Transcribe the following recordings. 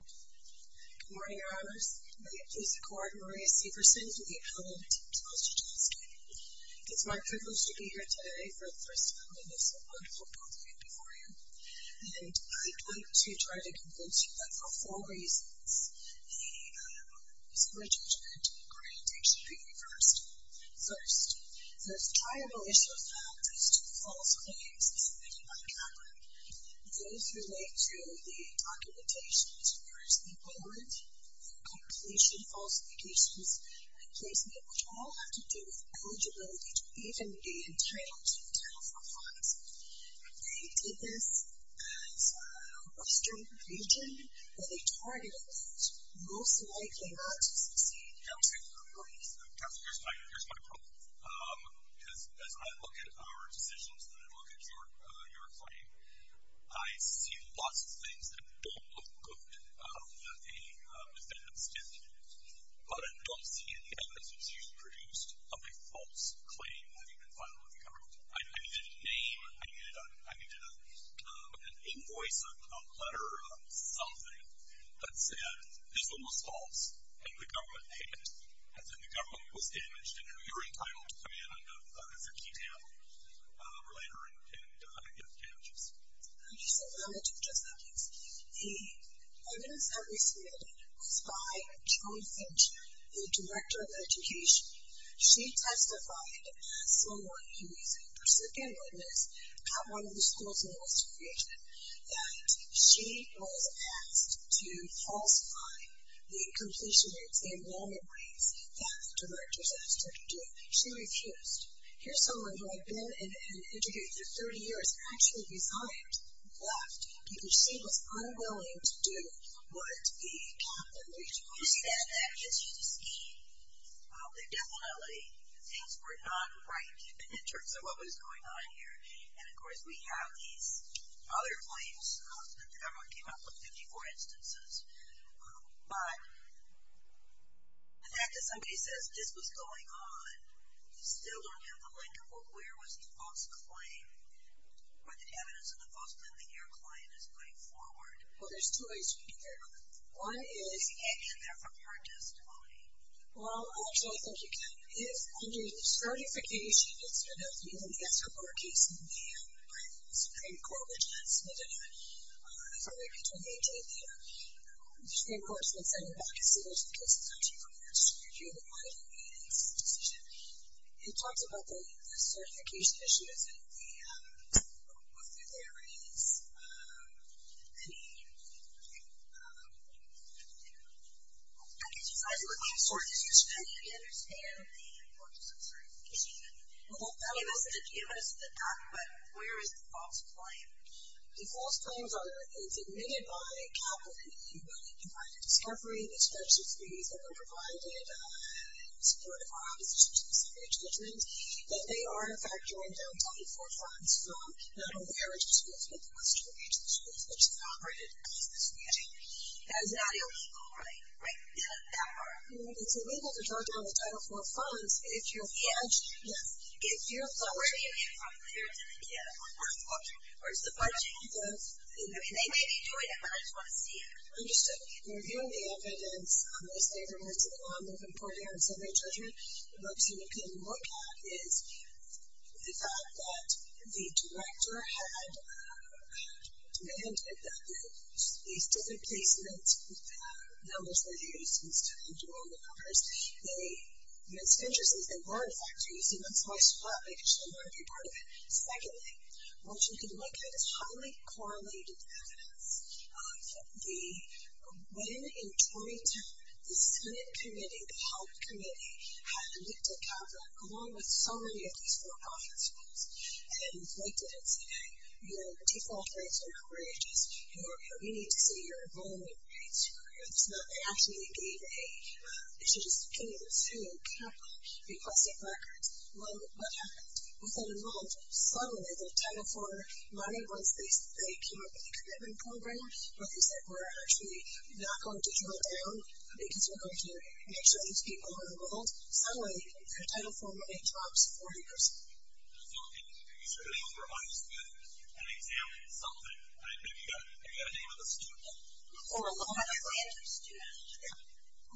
Good morning, Your Honors. My name is the court, Maria Severson, the appellant, Charles Jajdelski. It's my privilege to be here today for the first time in this wonderful courtroom before you. And I'd like to try to convince you that for four reasons. The first one is for the judgment to be granted. It should be reversed. First, there's triable issues that have raised to false claims submitted by Kaplan. Those relate to the documentation as far as the warrant for completion of false allegations and placement, which all have to do with eligibility to even be entitled to account for funds. They did this at Western Region, but they targeted most likely not to succeed. Counsel, here's my problem. As I look at our decisions and I look at your claim, I see lots of things that don't look good to a defendant's standpoint. But I don't see any evidence that's usually produced of a false claim having been filed with the government. I needed a name, I needed an invoice, a letter, something that said, this one was false and the government paid it. As in the government was damaged and you're entitled to come in as a key table or later and get the damages. Just a moment, just a moment. The evidence that we submitted was by Joan Finch, the Director of Education. She testified, someone who is a persecuted witness at one of the schools in Western Region, that she was asked to falsify the completion rates, the enrollment rates, that the directors asked her to do. She refused. Here's someone who I've been and interviewed for 30 years, actually resigned, left, because she was unwilling to do what the captain of Region 1 said. Did you see that there? Did you see the scheme? Definitely, things were not right in terms of what was going on here. And, of course, we have these other claims that the government came up with, 54 instances. But the fact that somebody says this was going on, you still don't have the link of where was the false claim or the evidence of the false claim that your client is going forward. Well, there's two ways you can get there. One is you can't get there from your testimony. Well, actually, I think you can. It is under the Certification Institute of the U.S. Supreme Court case in May by the Supreme Court Judicial Committee. It's only been 2018 there. The Supreme Court's been sending back a series of cases, actually, from the Supreme Court in May to make this decision. It talks about the certification issues and what there is. Any other questions? I guess you guys are looking for excuses. How do you understand the importance of certification? Well, that's a good question. But where is the false claim? The false claim is admitted by a couple in the U.S. by the discovery of these registries that were provided in support of our opposition to the suffrage judgments, that they are, in fact, joined down 24 times from not aware of the schools, but the Western Regional Schools, which have operated at least this year. That is not illegal, right? Right. It's illegal to jot down the Title IV funds if you're a judge. Yes. If you're a judge. So where do you get it from? Where does it get it from? Where does the budget come from? I mean, they may be doing it, but I just want to see it. Understood. In reviewing the evidence, I'm going to say there was a number of important evidence of their judgment. What you can look at is the fact that the director had demanded that these different placement numbers were used instead of dual numbers. And it's interesting, they were, in fact, used, and that's why I spoke up because I wanted to be part of it. Secondly, what you can look at is highly correlated evidence. When, in 2010, the Senate committee, the health committee, had looked at CAPA, along with so many of these for-profit schools, and pointed at saying, you know, default rates are outrageous, you need to see your enrollment rates. It's not that they actually gave a, it's just that they gave a full CAPA request of records. What happened? Within a month, suddenly, the Title IV money was, they came up with a commitment program, but they said, we're actually not going to drill down, because we're going to make sure these people are enrolled. Suddenly, the Title IV money drops 40%. So, are you sure they were honest with an exam or something? I mean, have you got a name of a student? Or a law graduate student. Yeah.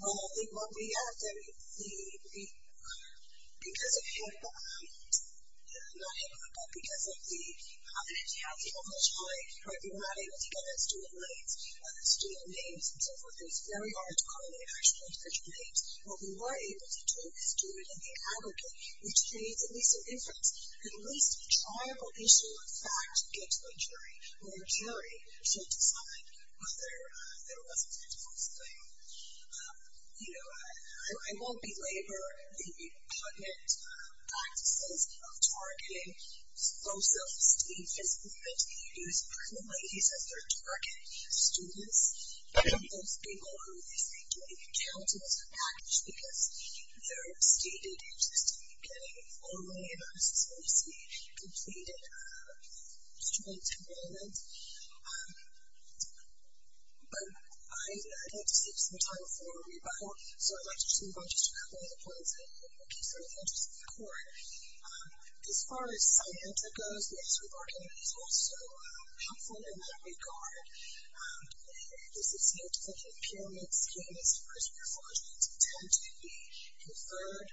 Well, what we asked them, because of CAPA, not HIPAA, but because of the, because you have the only choice, right, you're not able to get the student names and so forth, and it's very hard to call a university with special names. What we were able to do is do it in the aggregate, which made at least a difference. At least the tribal issue, in fact, gets more juried, to decide whether there was a technical thing. You know, I won't belabor the cognate practices of targeting pro-self-esteem. It's not that you use criminalities as your target students. You have those people who, they say, don't even count as a package, because they're stated just getting formally and obsessively completed student enrollment. But I'd like to save some time for a rebuttal, so I'd like to move on to just a couple of points that I think would be sort of interesting to record. As far as signage that goes, notice reporting is also helpful in that regard. This is new to the HIPAA mix. HIPAAs, of course, were forged to tend to be conferred.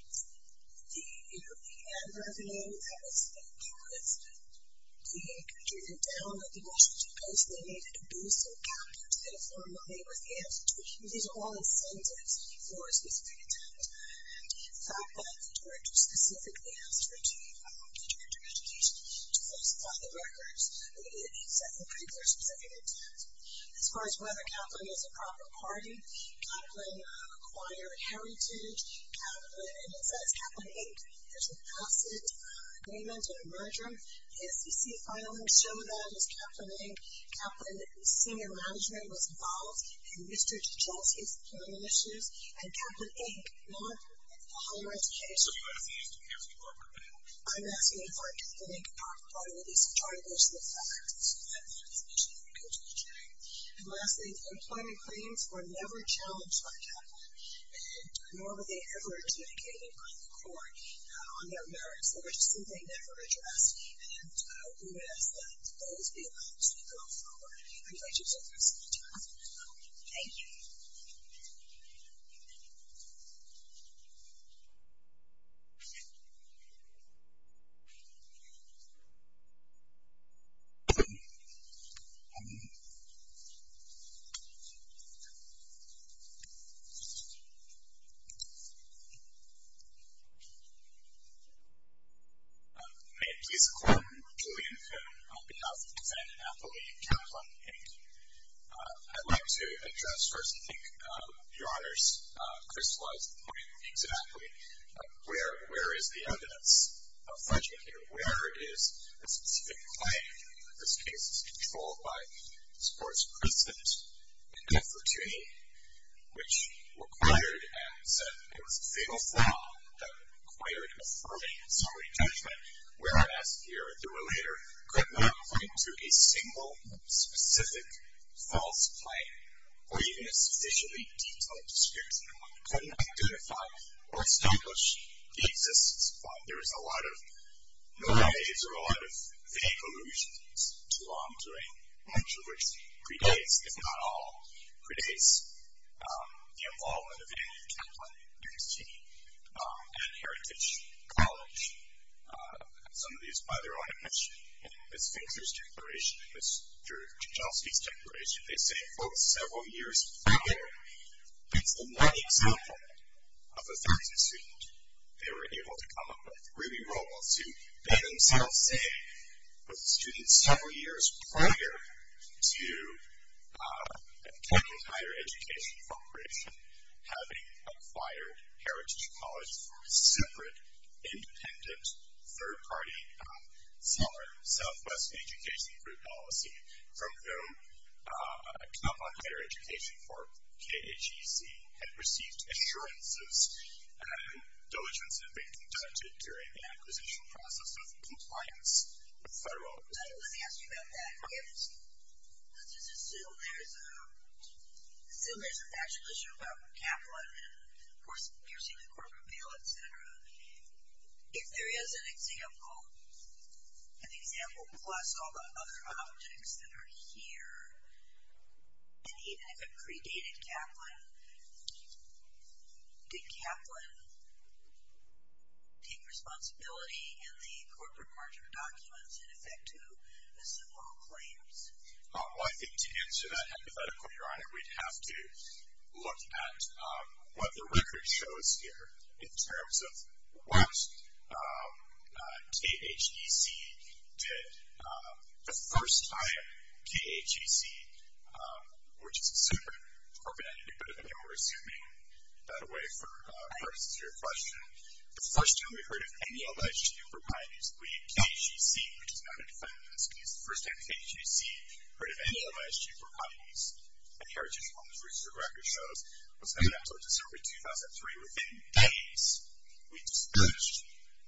The, you know, the ad revenue, that was, you know, caused the country to download the Washington Post. They needed to boost some capital to get more money with the institute. These are all incentives for a specific intent. And the fact that the director specifically asked for the director of education to falsify the records would be a pretty clear specific intent. As far as whether Kaplan is a proper party, Kaplan acquired heritage. Kaplan, and it says Kaplan, Kaplan Inc. There's an accident, payment, or merger. The SEC filings show that it was Kaplan Inc. Kaplan's senior management was involved in Mr. DeGioia's employment issues. And Kaplan Inc. Not the higher education department. I'm asking for Kaplan Inc. to be a proper party with at least a majority version of the facts. And lastly, the employment claims were never challenged by Kaplan. And nor were they ever communicated by the court on their merits. They were just something they never addressed. And we would ask that those be allowed to go forward. I'd like to take this opportunity to ask for a vote. Thank you. May it please the court, I'm Julian Cohen. On behalf of President Napoli and Kaplan Inc. I'd like to address first, I think, your Honor's crystallized point exactly. Where is the evidence of fudging here? Where is the specific claim that this case is controlled by the sports precedent which required and said it was a fatal flaw that required affirming summary judgment. Whereas here, the relator could not point to a single specific false claim or even a sufficiently detailed description of one. He couldn't identify or establish the existence of one. There is a lot of noise or a lot of vague allusions to law I'm doing. Much of which predates, if not all, predates the involvement of Andrew Kaplan, Duke's team, at Heritage College. Some of these, by their own admission, Ms. Fincher's declaration, Ms. Georgioski's declaration, they say, quote, several years prior. That's the one example of a faculty student they were able to come up with really role to, they themselves say, was a student several years prior to Kaplan Higher Education Corporation having acquired Heritage College from a separate, independent, third-party, Southwest Education Group policy from whom Kaplan Higher Education Corp., KAGC, had received assurances. Diligence had been conducted during the acquisition process of compliance with federal policy. Let me ask you about that. Let's just assume there's a factual issue about Kaplan and, of course, you're seeing the corporate bill, etc. If there is an example, an example plus all the other objects that are here, and even if it predated Kaplan, did Kaplan take responsibility in the corporate margin documents in effect to assemble claims? Well, I think to answer that hypothetical, Your Honor, we'd have to look at what the record shows here in terms of what KAGC did the first time KAGC, which is a separate corporate entity, but, again, we're assuming that away for purposes of your question. The first time we heard of any LISG proprieties, we, KAGC, which is not a defendant in this case, the first time KAGC heard of any LISG proprieties at Heritage College, which is what the record shows, was made up until December 2003. Within days, we dispatched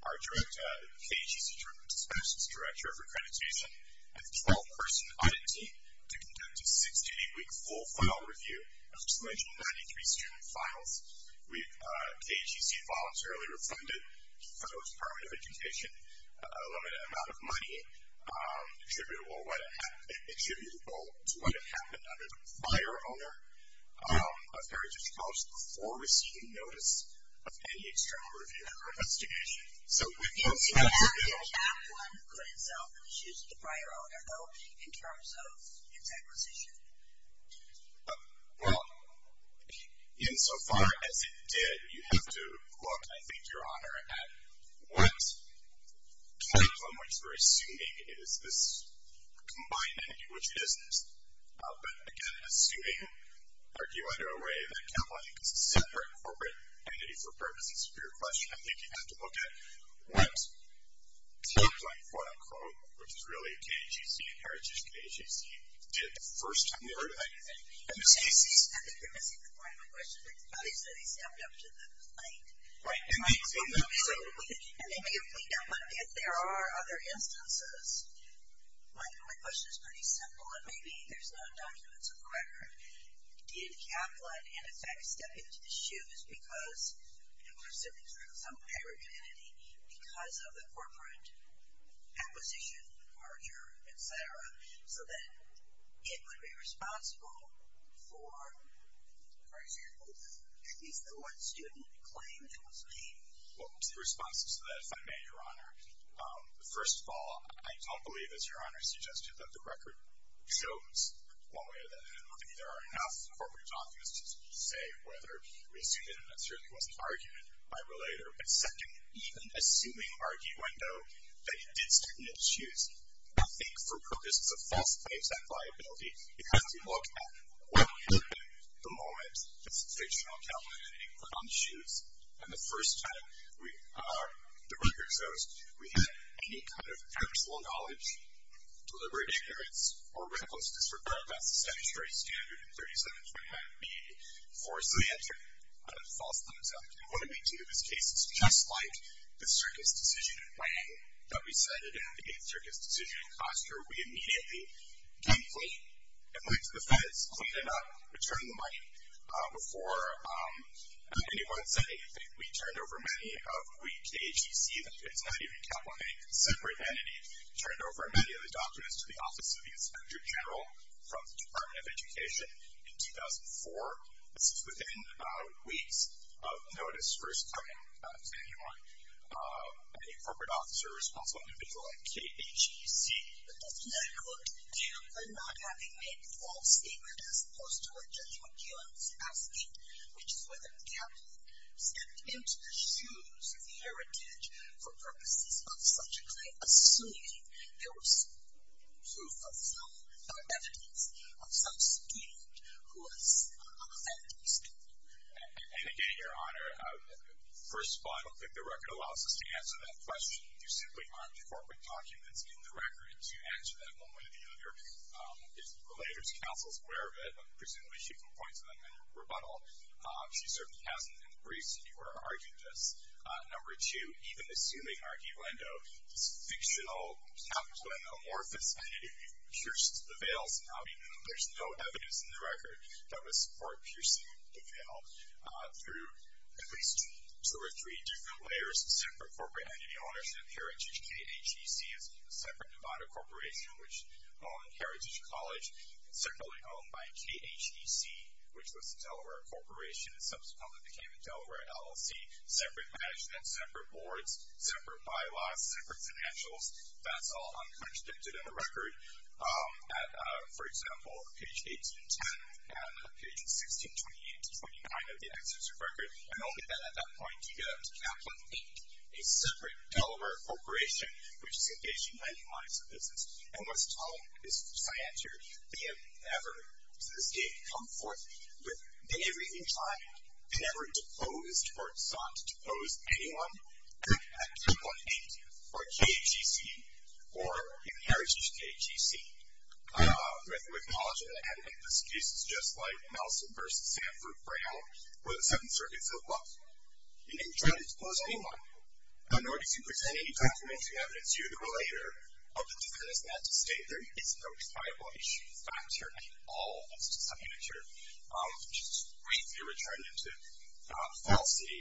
our director, KAGC's Director of Dispatches, Director of Accreditation, and a 12-person audit team to conduct a six- to eight-week full-file review of just the mentioned 93 student files. KAGC voluntarily refunded to the Federal Department of Education a limited amount of money attributable to what had happened under the prior owner of Heritage College before receiving notice of any external review after investigation. So we can assume that... If you don't have the exact one, could itself choose the prior owner, though, in terms of its acquisition? Well, insofar as it did, you have to look, I think, Your Honor, at what type, on which we're assuming, is this combined entity, which it isn't. But, again, assuming, arguing under a way that KAGC is a separate corporate entity for purposes of your question, I think you'd have to look at what type, like, quote-unquote, which is really KAGC, Heritage is KAGC, did the first time you heard of anything. I think you're missing the point of my question. They said they stepped up to the plate. Right. And they may have cleaned up, but if there are other instances, my question is pretty simple, and maybe there's no documents of the record. Did Kaplan, in effect, step into the shoes because it was sitting through some parent entity because of the corporate acquisition, merger, etc., so that it would be responsible for, for example, at least the one student claim that was made? Well, the response to that, if I may, Your Honor, first of all, I don't believe, as Your Honor suggested, that the record shows one way or the other. I don't think there are enough corporate documents to say whether we assumed it and that certainly wasn't argued by a relator. And second, even assuming arguendo, that it did step into the shoes, I think for purposes of false claims and liability, you have to look at what happened the moment this fictional Kaplan entity put on the shoes, and the first time the record shows we had any kind of personal knowledge, deliberate ignorance, or recklessness, regardless of statutory standard 3729B4, so we entered a false thumbs-up. And what did we do? In this case, it's just like the Circus Decision in Miami that we cited in the 8th Circus Decision in Costa Rica. We immediately gave a plate and went to the feds, cleaned it up, returned the money before anyone said anything. We turned over many of, we, KAGC, that is not even Kaplan, a separate entity, turned over many of the documents to the Office of the Inspector General from the Department of Education in 2004. This is within about weeks of notice, first coming to anyone, any corporate officer or responsible individual at KAGC. But the fact that I quote, Kaplan not having made the false statement as opposed to what Judge McKeown was asking, which is whether Kaplan stepped into the shoes of the heritage for purposes of subjectly assuming there was proof of some, the evidence of some student who was a feminist. And again, Your Honor, first of all, I don't think the record allows us to answer that question. You simply aren't incorporating documents in the record to answer that one way or the other. If the Relators Council is aware of it, presumably she can point to them in a rebuttal. She certainly hasn't in the briefs that you were arguing this. Number two, even assuming Archie Lendo is a fictional Kaplan amorphous entity who pierced the veils, I mean, there's no evidence in the record that was for piercing the veil through at least two or three different layers of separate corporate entity ownership. Heritage KHEC is a separate Nevada corporation which owned Heritage College, centrally owned by KHEC, which was a Delaware corporation and subsequently became a Delaware LLC, separate management, separate boards, separate bylaws, separate financials. That's all uncontradicted in the record. For example, on page 1810 and page 1628-29 of the Executive Record, I noted that at that point, you get up to Kaplan Inc., a separate Delaware corporation which is engaged in many lines of business. And what's telling is, as I answered, they have never, to this day, come forth. They have, in time, never deposed or sought to depose anyone. At Kaplan Inc., or KHEC, or in Heritage KHEC, with knowledge of the evidence, cases just like Nelson v. Sanford Brown were the Seventh Circuit filled up. They didn't try to depose anyone. In order to present any documentary evidence to the relator of the defense, not to state there is no reliable issue. In fact, certainly, all of the subunits are just briefly returned into falsity.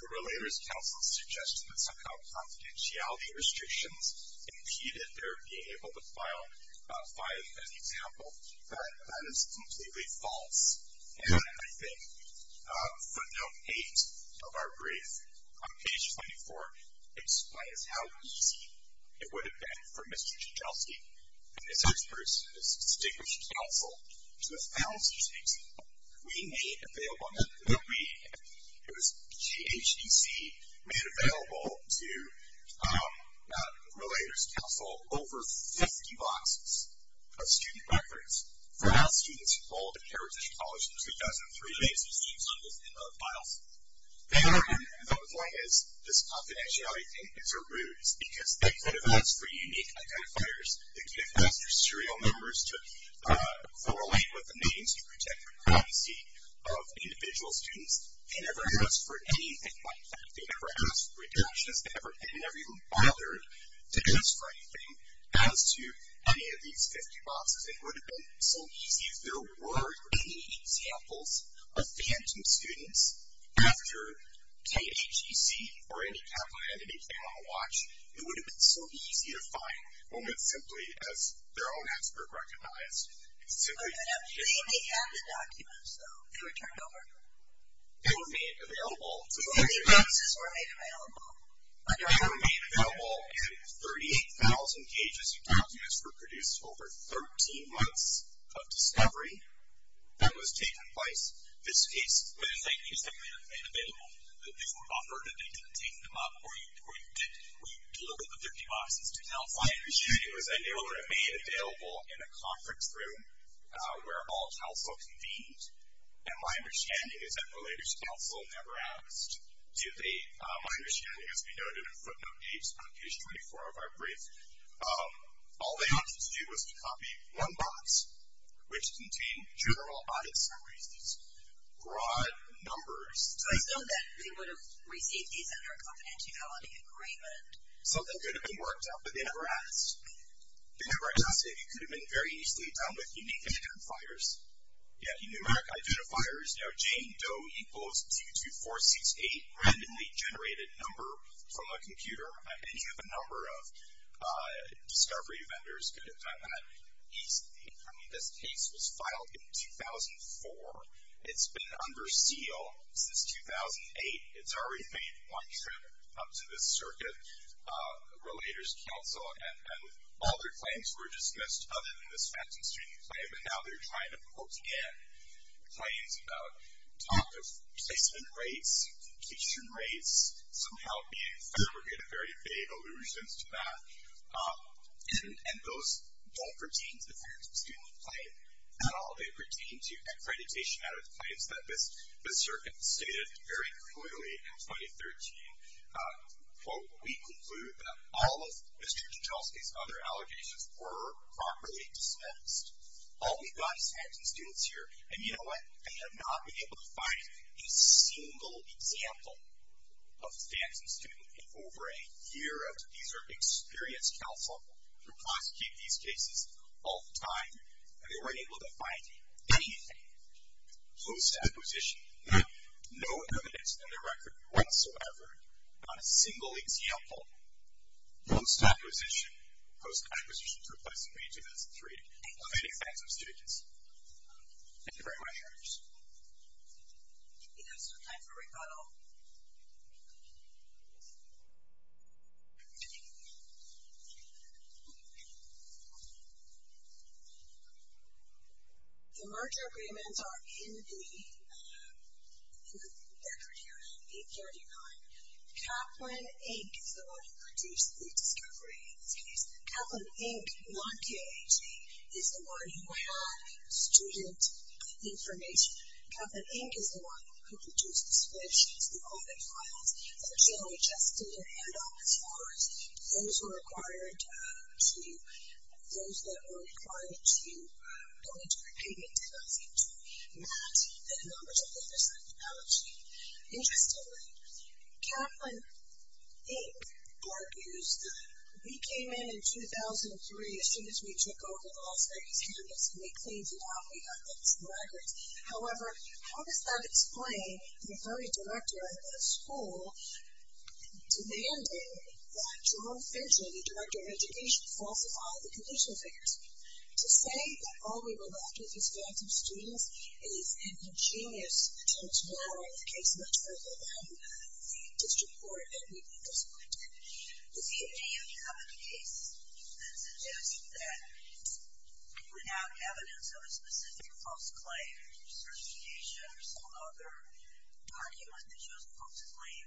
The Relator's Council suggests that somehow confidentiality restrictions impeded their being able to file 5 as an example, but that is completely false. And I think footnote 8 of our brief, on page 24, explains how easy it would have been for Mr. Chichelsky and his experts and his distinguished counsel to have found such an example. We made available, and it was KHEC made available to Relator's Council over 50 boxes of student records for all students enrolled in Heritage College in 2003. There's names on this in the files. They are in there, as long as this confidentiality thing is removed, because they could have asked for unique identifiers. They could have asked for serial numbers to correlate with the names to protect the privacy of individual students. They never asked for anything like that. They never asked for introductions. They never even bothered to ask for anything as to any of these 50 boxes. It would have been so easy if there were any examples of phantom students after KHEC or any confidentiality thing on the watch. It would have been so easy to find when it simply, as their own expert recognized, it simply didn't exist. They didn't have the documents, though. They were turned over. They were made available. The 50 boxes were made available. They were made available, and 38,000 pages of documents were produced over 13 months of discovery that was taking place. This case, when you say, you said they were made available, that they were offered and they didn't take them up, or you looked at the 50 boxes to tell, fine, as you do, because they were made available in a conference room where all counsel convened, and my understanding is that related counsel never asked. My understanding, as we noted in footnote 8 on page 24 of our brief, all they wanted to do was to copy one box, which contained general audit summaries, these broad numbers. So they would have received these under a confidentiality agreement. So they could have been worked out, but they never asked. They never asked. They could have been very easily done with unique identifiers. Yeah, numeric identifiers. You know, Jane Doe equals 22468, randomly generated number from a computer. Any of the number of discovery vendors could have done that. I mean, this case was filed in 2004. It's been under seal since 2008. It's already made one trip up to the circuit. Relators counsel and all their claims were dismissed other than this Fenton student claim, and now they're trying to quote again claims about talk of placement rates, completion rates, somehow being fabricated, very vague allusions to that, and those don't pertain to the Fenton student claim at all. They pertain to accreditation audit claims that this circuit stated very clearly in 2013, quote, we conclude that all of Mr. Gentileski's other allegations were properly dismissed. All we've got is Fenton students here, and you know what? They have not been able to find a single example of Fenton student in over a year. These are experienced counsel who prosecute these cases all the time, and they weren't able to find anything close to that position. We have no evidence in the record whatsoever on a single example post-acquisition, post-acquisition for placing rate in 2003 of any Fenton students. Thank you very much. We have some time for rebuttal. The merger agreements are in the record here, 839. Kaplan, Inc. is the one who produced the discovery. In this case, Kaplan, Inc., not K-A-G, is the one who had student information. Kaplan, Inc. is the one who produced the switch to the audit files that generally just did a handoff. Of course, those were required to, those that were required to go into repayment did not seem to match the numbers of others on the balance sheet. Interestingly, Kaplan, Inc. argues that we came in in 2003 as soon as we took over the Los Angeles campus and we cleaned it up, we got those records. However, how does that explain the very director of the school demanding that John Finchel, the director of education, falsify the conditional figures to say that all we were left with was Fenton students is an ingenious case material and the district court that we disciplined? Does he have any other case that suggests that we have evidence of a specific post-claim or some other document that shows a post-claim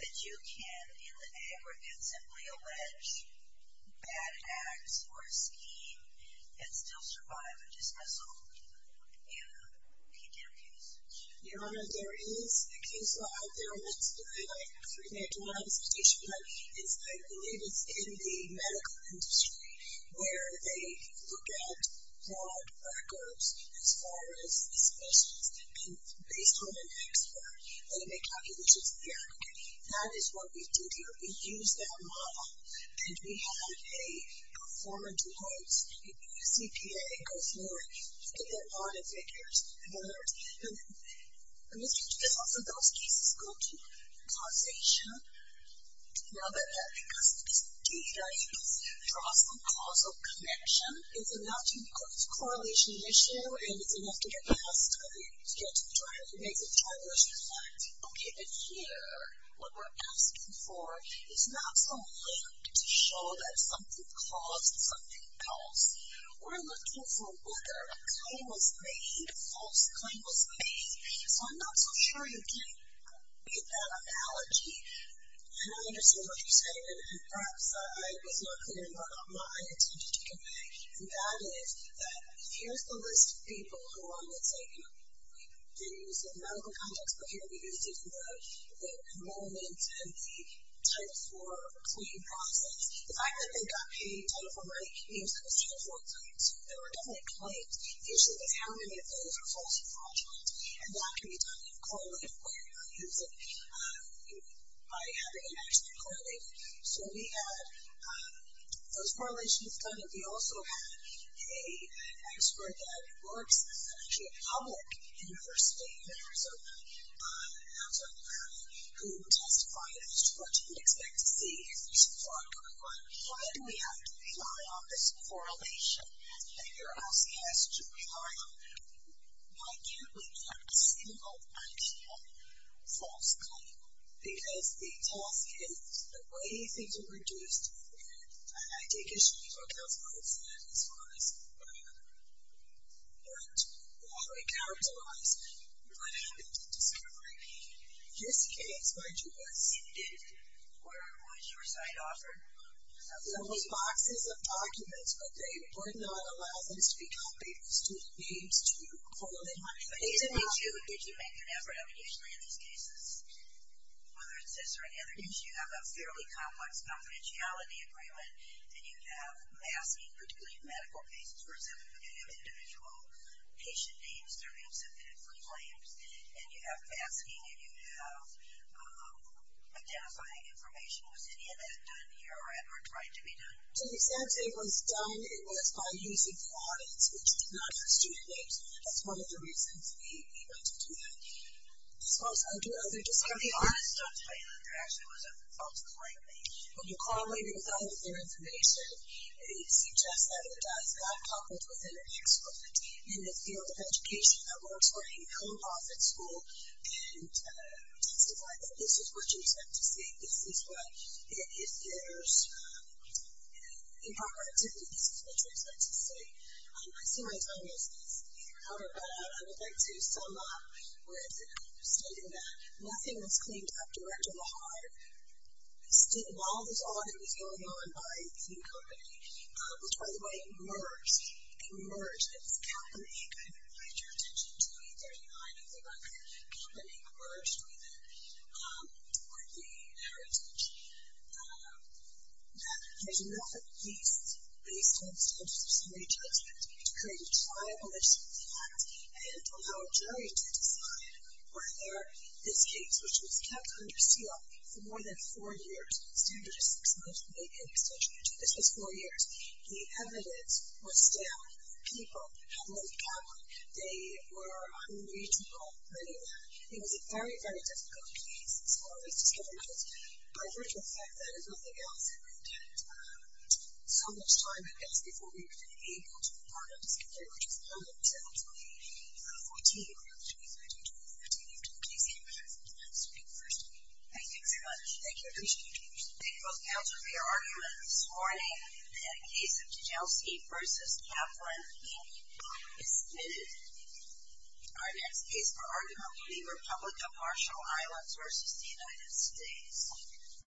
that you can, in the aggregate, simply allege bad acts or a scheme and still survive a dismissal and can get a case? Your Honor, there is a case law out there, and it's been highlighted in a three-page law in this petition, but I believe it's in the medical industry where they look at broad records as far as dismissals, and based on an expert, they make calculations in the aggregate. That is what we did here. We used that model, and we had a performer do notes, a US EPA go forward, look at their audit figures, and then those cases go to causation. Now that that data draws some causal connection, it's a not-too-close correlation issue, and it's enough to get past to get to the driver. It makes a driver's point. Okay, but here, what we're asking for is not some link to show that something caused something else. We're looking for whether a claim was made, a false claim was made, so I'm not so sure you can beat that analogy, and I understand what you're saying, and perhaps I was not clear, and you're not mine, so just take it away, and that is that here's the list of people who I would say, you know, we didn't use in the medical context, but here we used it in the enrollment and the Title IV claim process. The fact that they got paid Title IV money means that it was Title IV claims, so there were definitely claims. The issue is how many of those are false or fraudulent, and that can be done in a correlated way, by having it actually correlated. So we had those correlations done, and we also had an expert that works at a public university in Arizona, who testified against what you would expect to see if there's a fraud going on. Why do we have to rely on this correlation that you're asking us to rely on? Why can't we have a single actual false claim? Because the task is, the way things are reduced, and I take issue with what Dr. Rhodes said, as far as what we characterize, what happened to discovery, just in case, what you would see if, or what your site offered, there was boxes of documents, but they would not allow this to be copied with student names, to hold them. Did you make an effort, I mean, usually in these cases, whether it's this or any other case, you have a fairly complex confidentiality agreement, and you have masking, particularly in medical cases, for example, where you have individual patient names, their names submitted for claims, and you have masking, and you have identifying information. Was any of that done here, or tried to be done? To the extent it was done, it was by using the audits, which did not use student names. That's one of the reasons we went into that. As far as other discovery, all the stuff that I heard, actually was a false claim. When you correlate it with other information, it suggests that it does not conflict with any expert in the field of education, that works for any non-profit school, and testified that this is what you expect to see, this is what, if there's improper activity, this is what you expect to see. I see my time is out of bat. I would like to sum up with stating that nothing was claimed up direct or by heart. While this audit was going on by a key company, which, by the way, emerged, it emerged, it was a company, I don't know if you paid your attention to me, 39 of the record, company emerged with it, toward the heritage. There's enough of these, based on statutes of re-judgment, to create a tribalist effect, and allow a jury to decide whether this case, which was kept under seal for more than four years, standard is six months, maybe an extension, this was four years, the evidence was there, the people had lived calmly, they were unreachable, many of them. It was a very, very difficult case, so all of these discoveries, by virtual fact, that is nothing else, and we've had so much time, I guess, before we were even able to part of this discovery, which was held on December 14th, February 23rd, December 14th, in Duke, New Jersey. I'll speak first. Thank you very much. Thank you. I appreciate you. Thank you both. That was your argument this morning, the case of Jelsey v. Kaplan, is submitted. Our next case for argument will be the Republic of Marshall Islands v. The United States.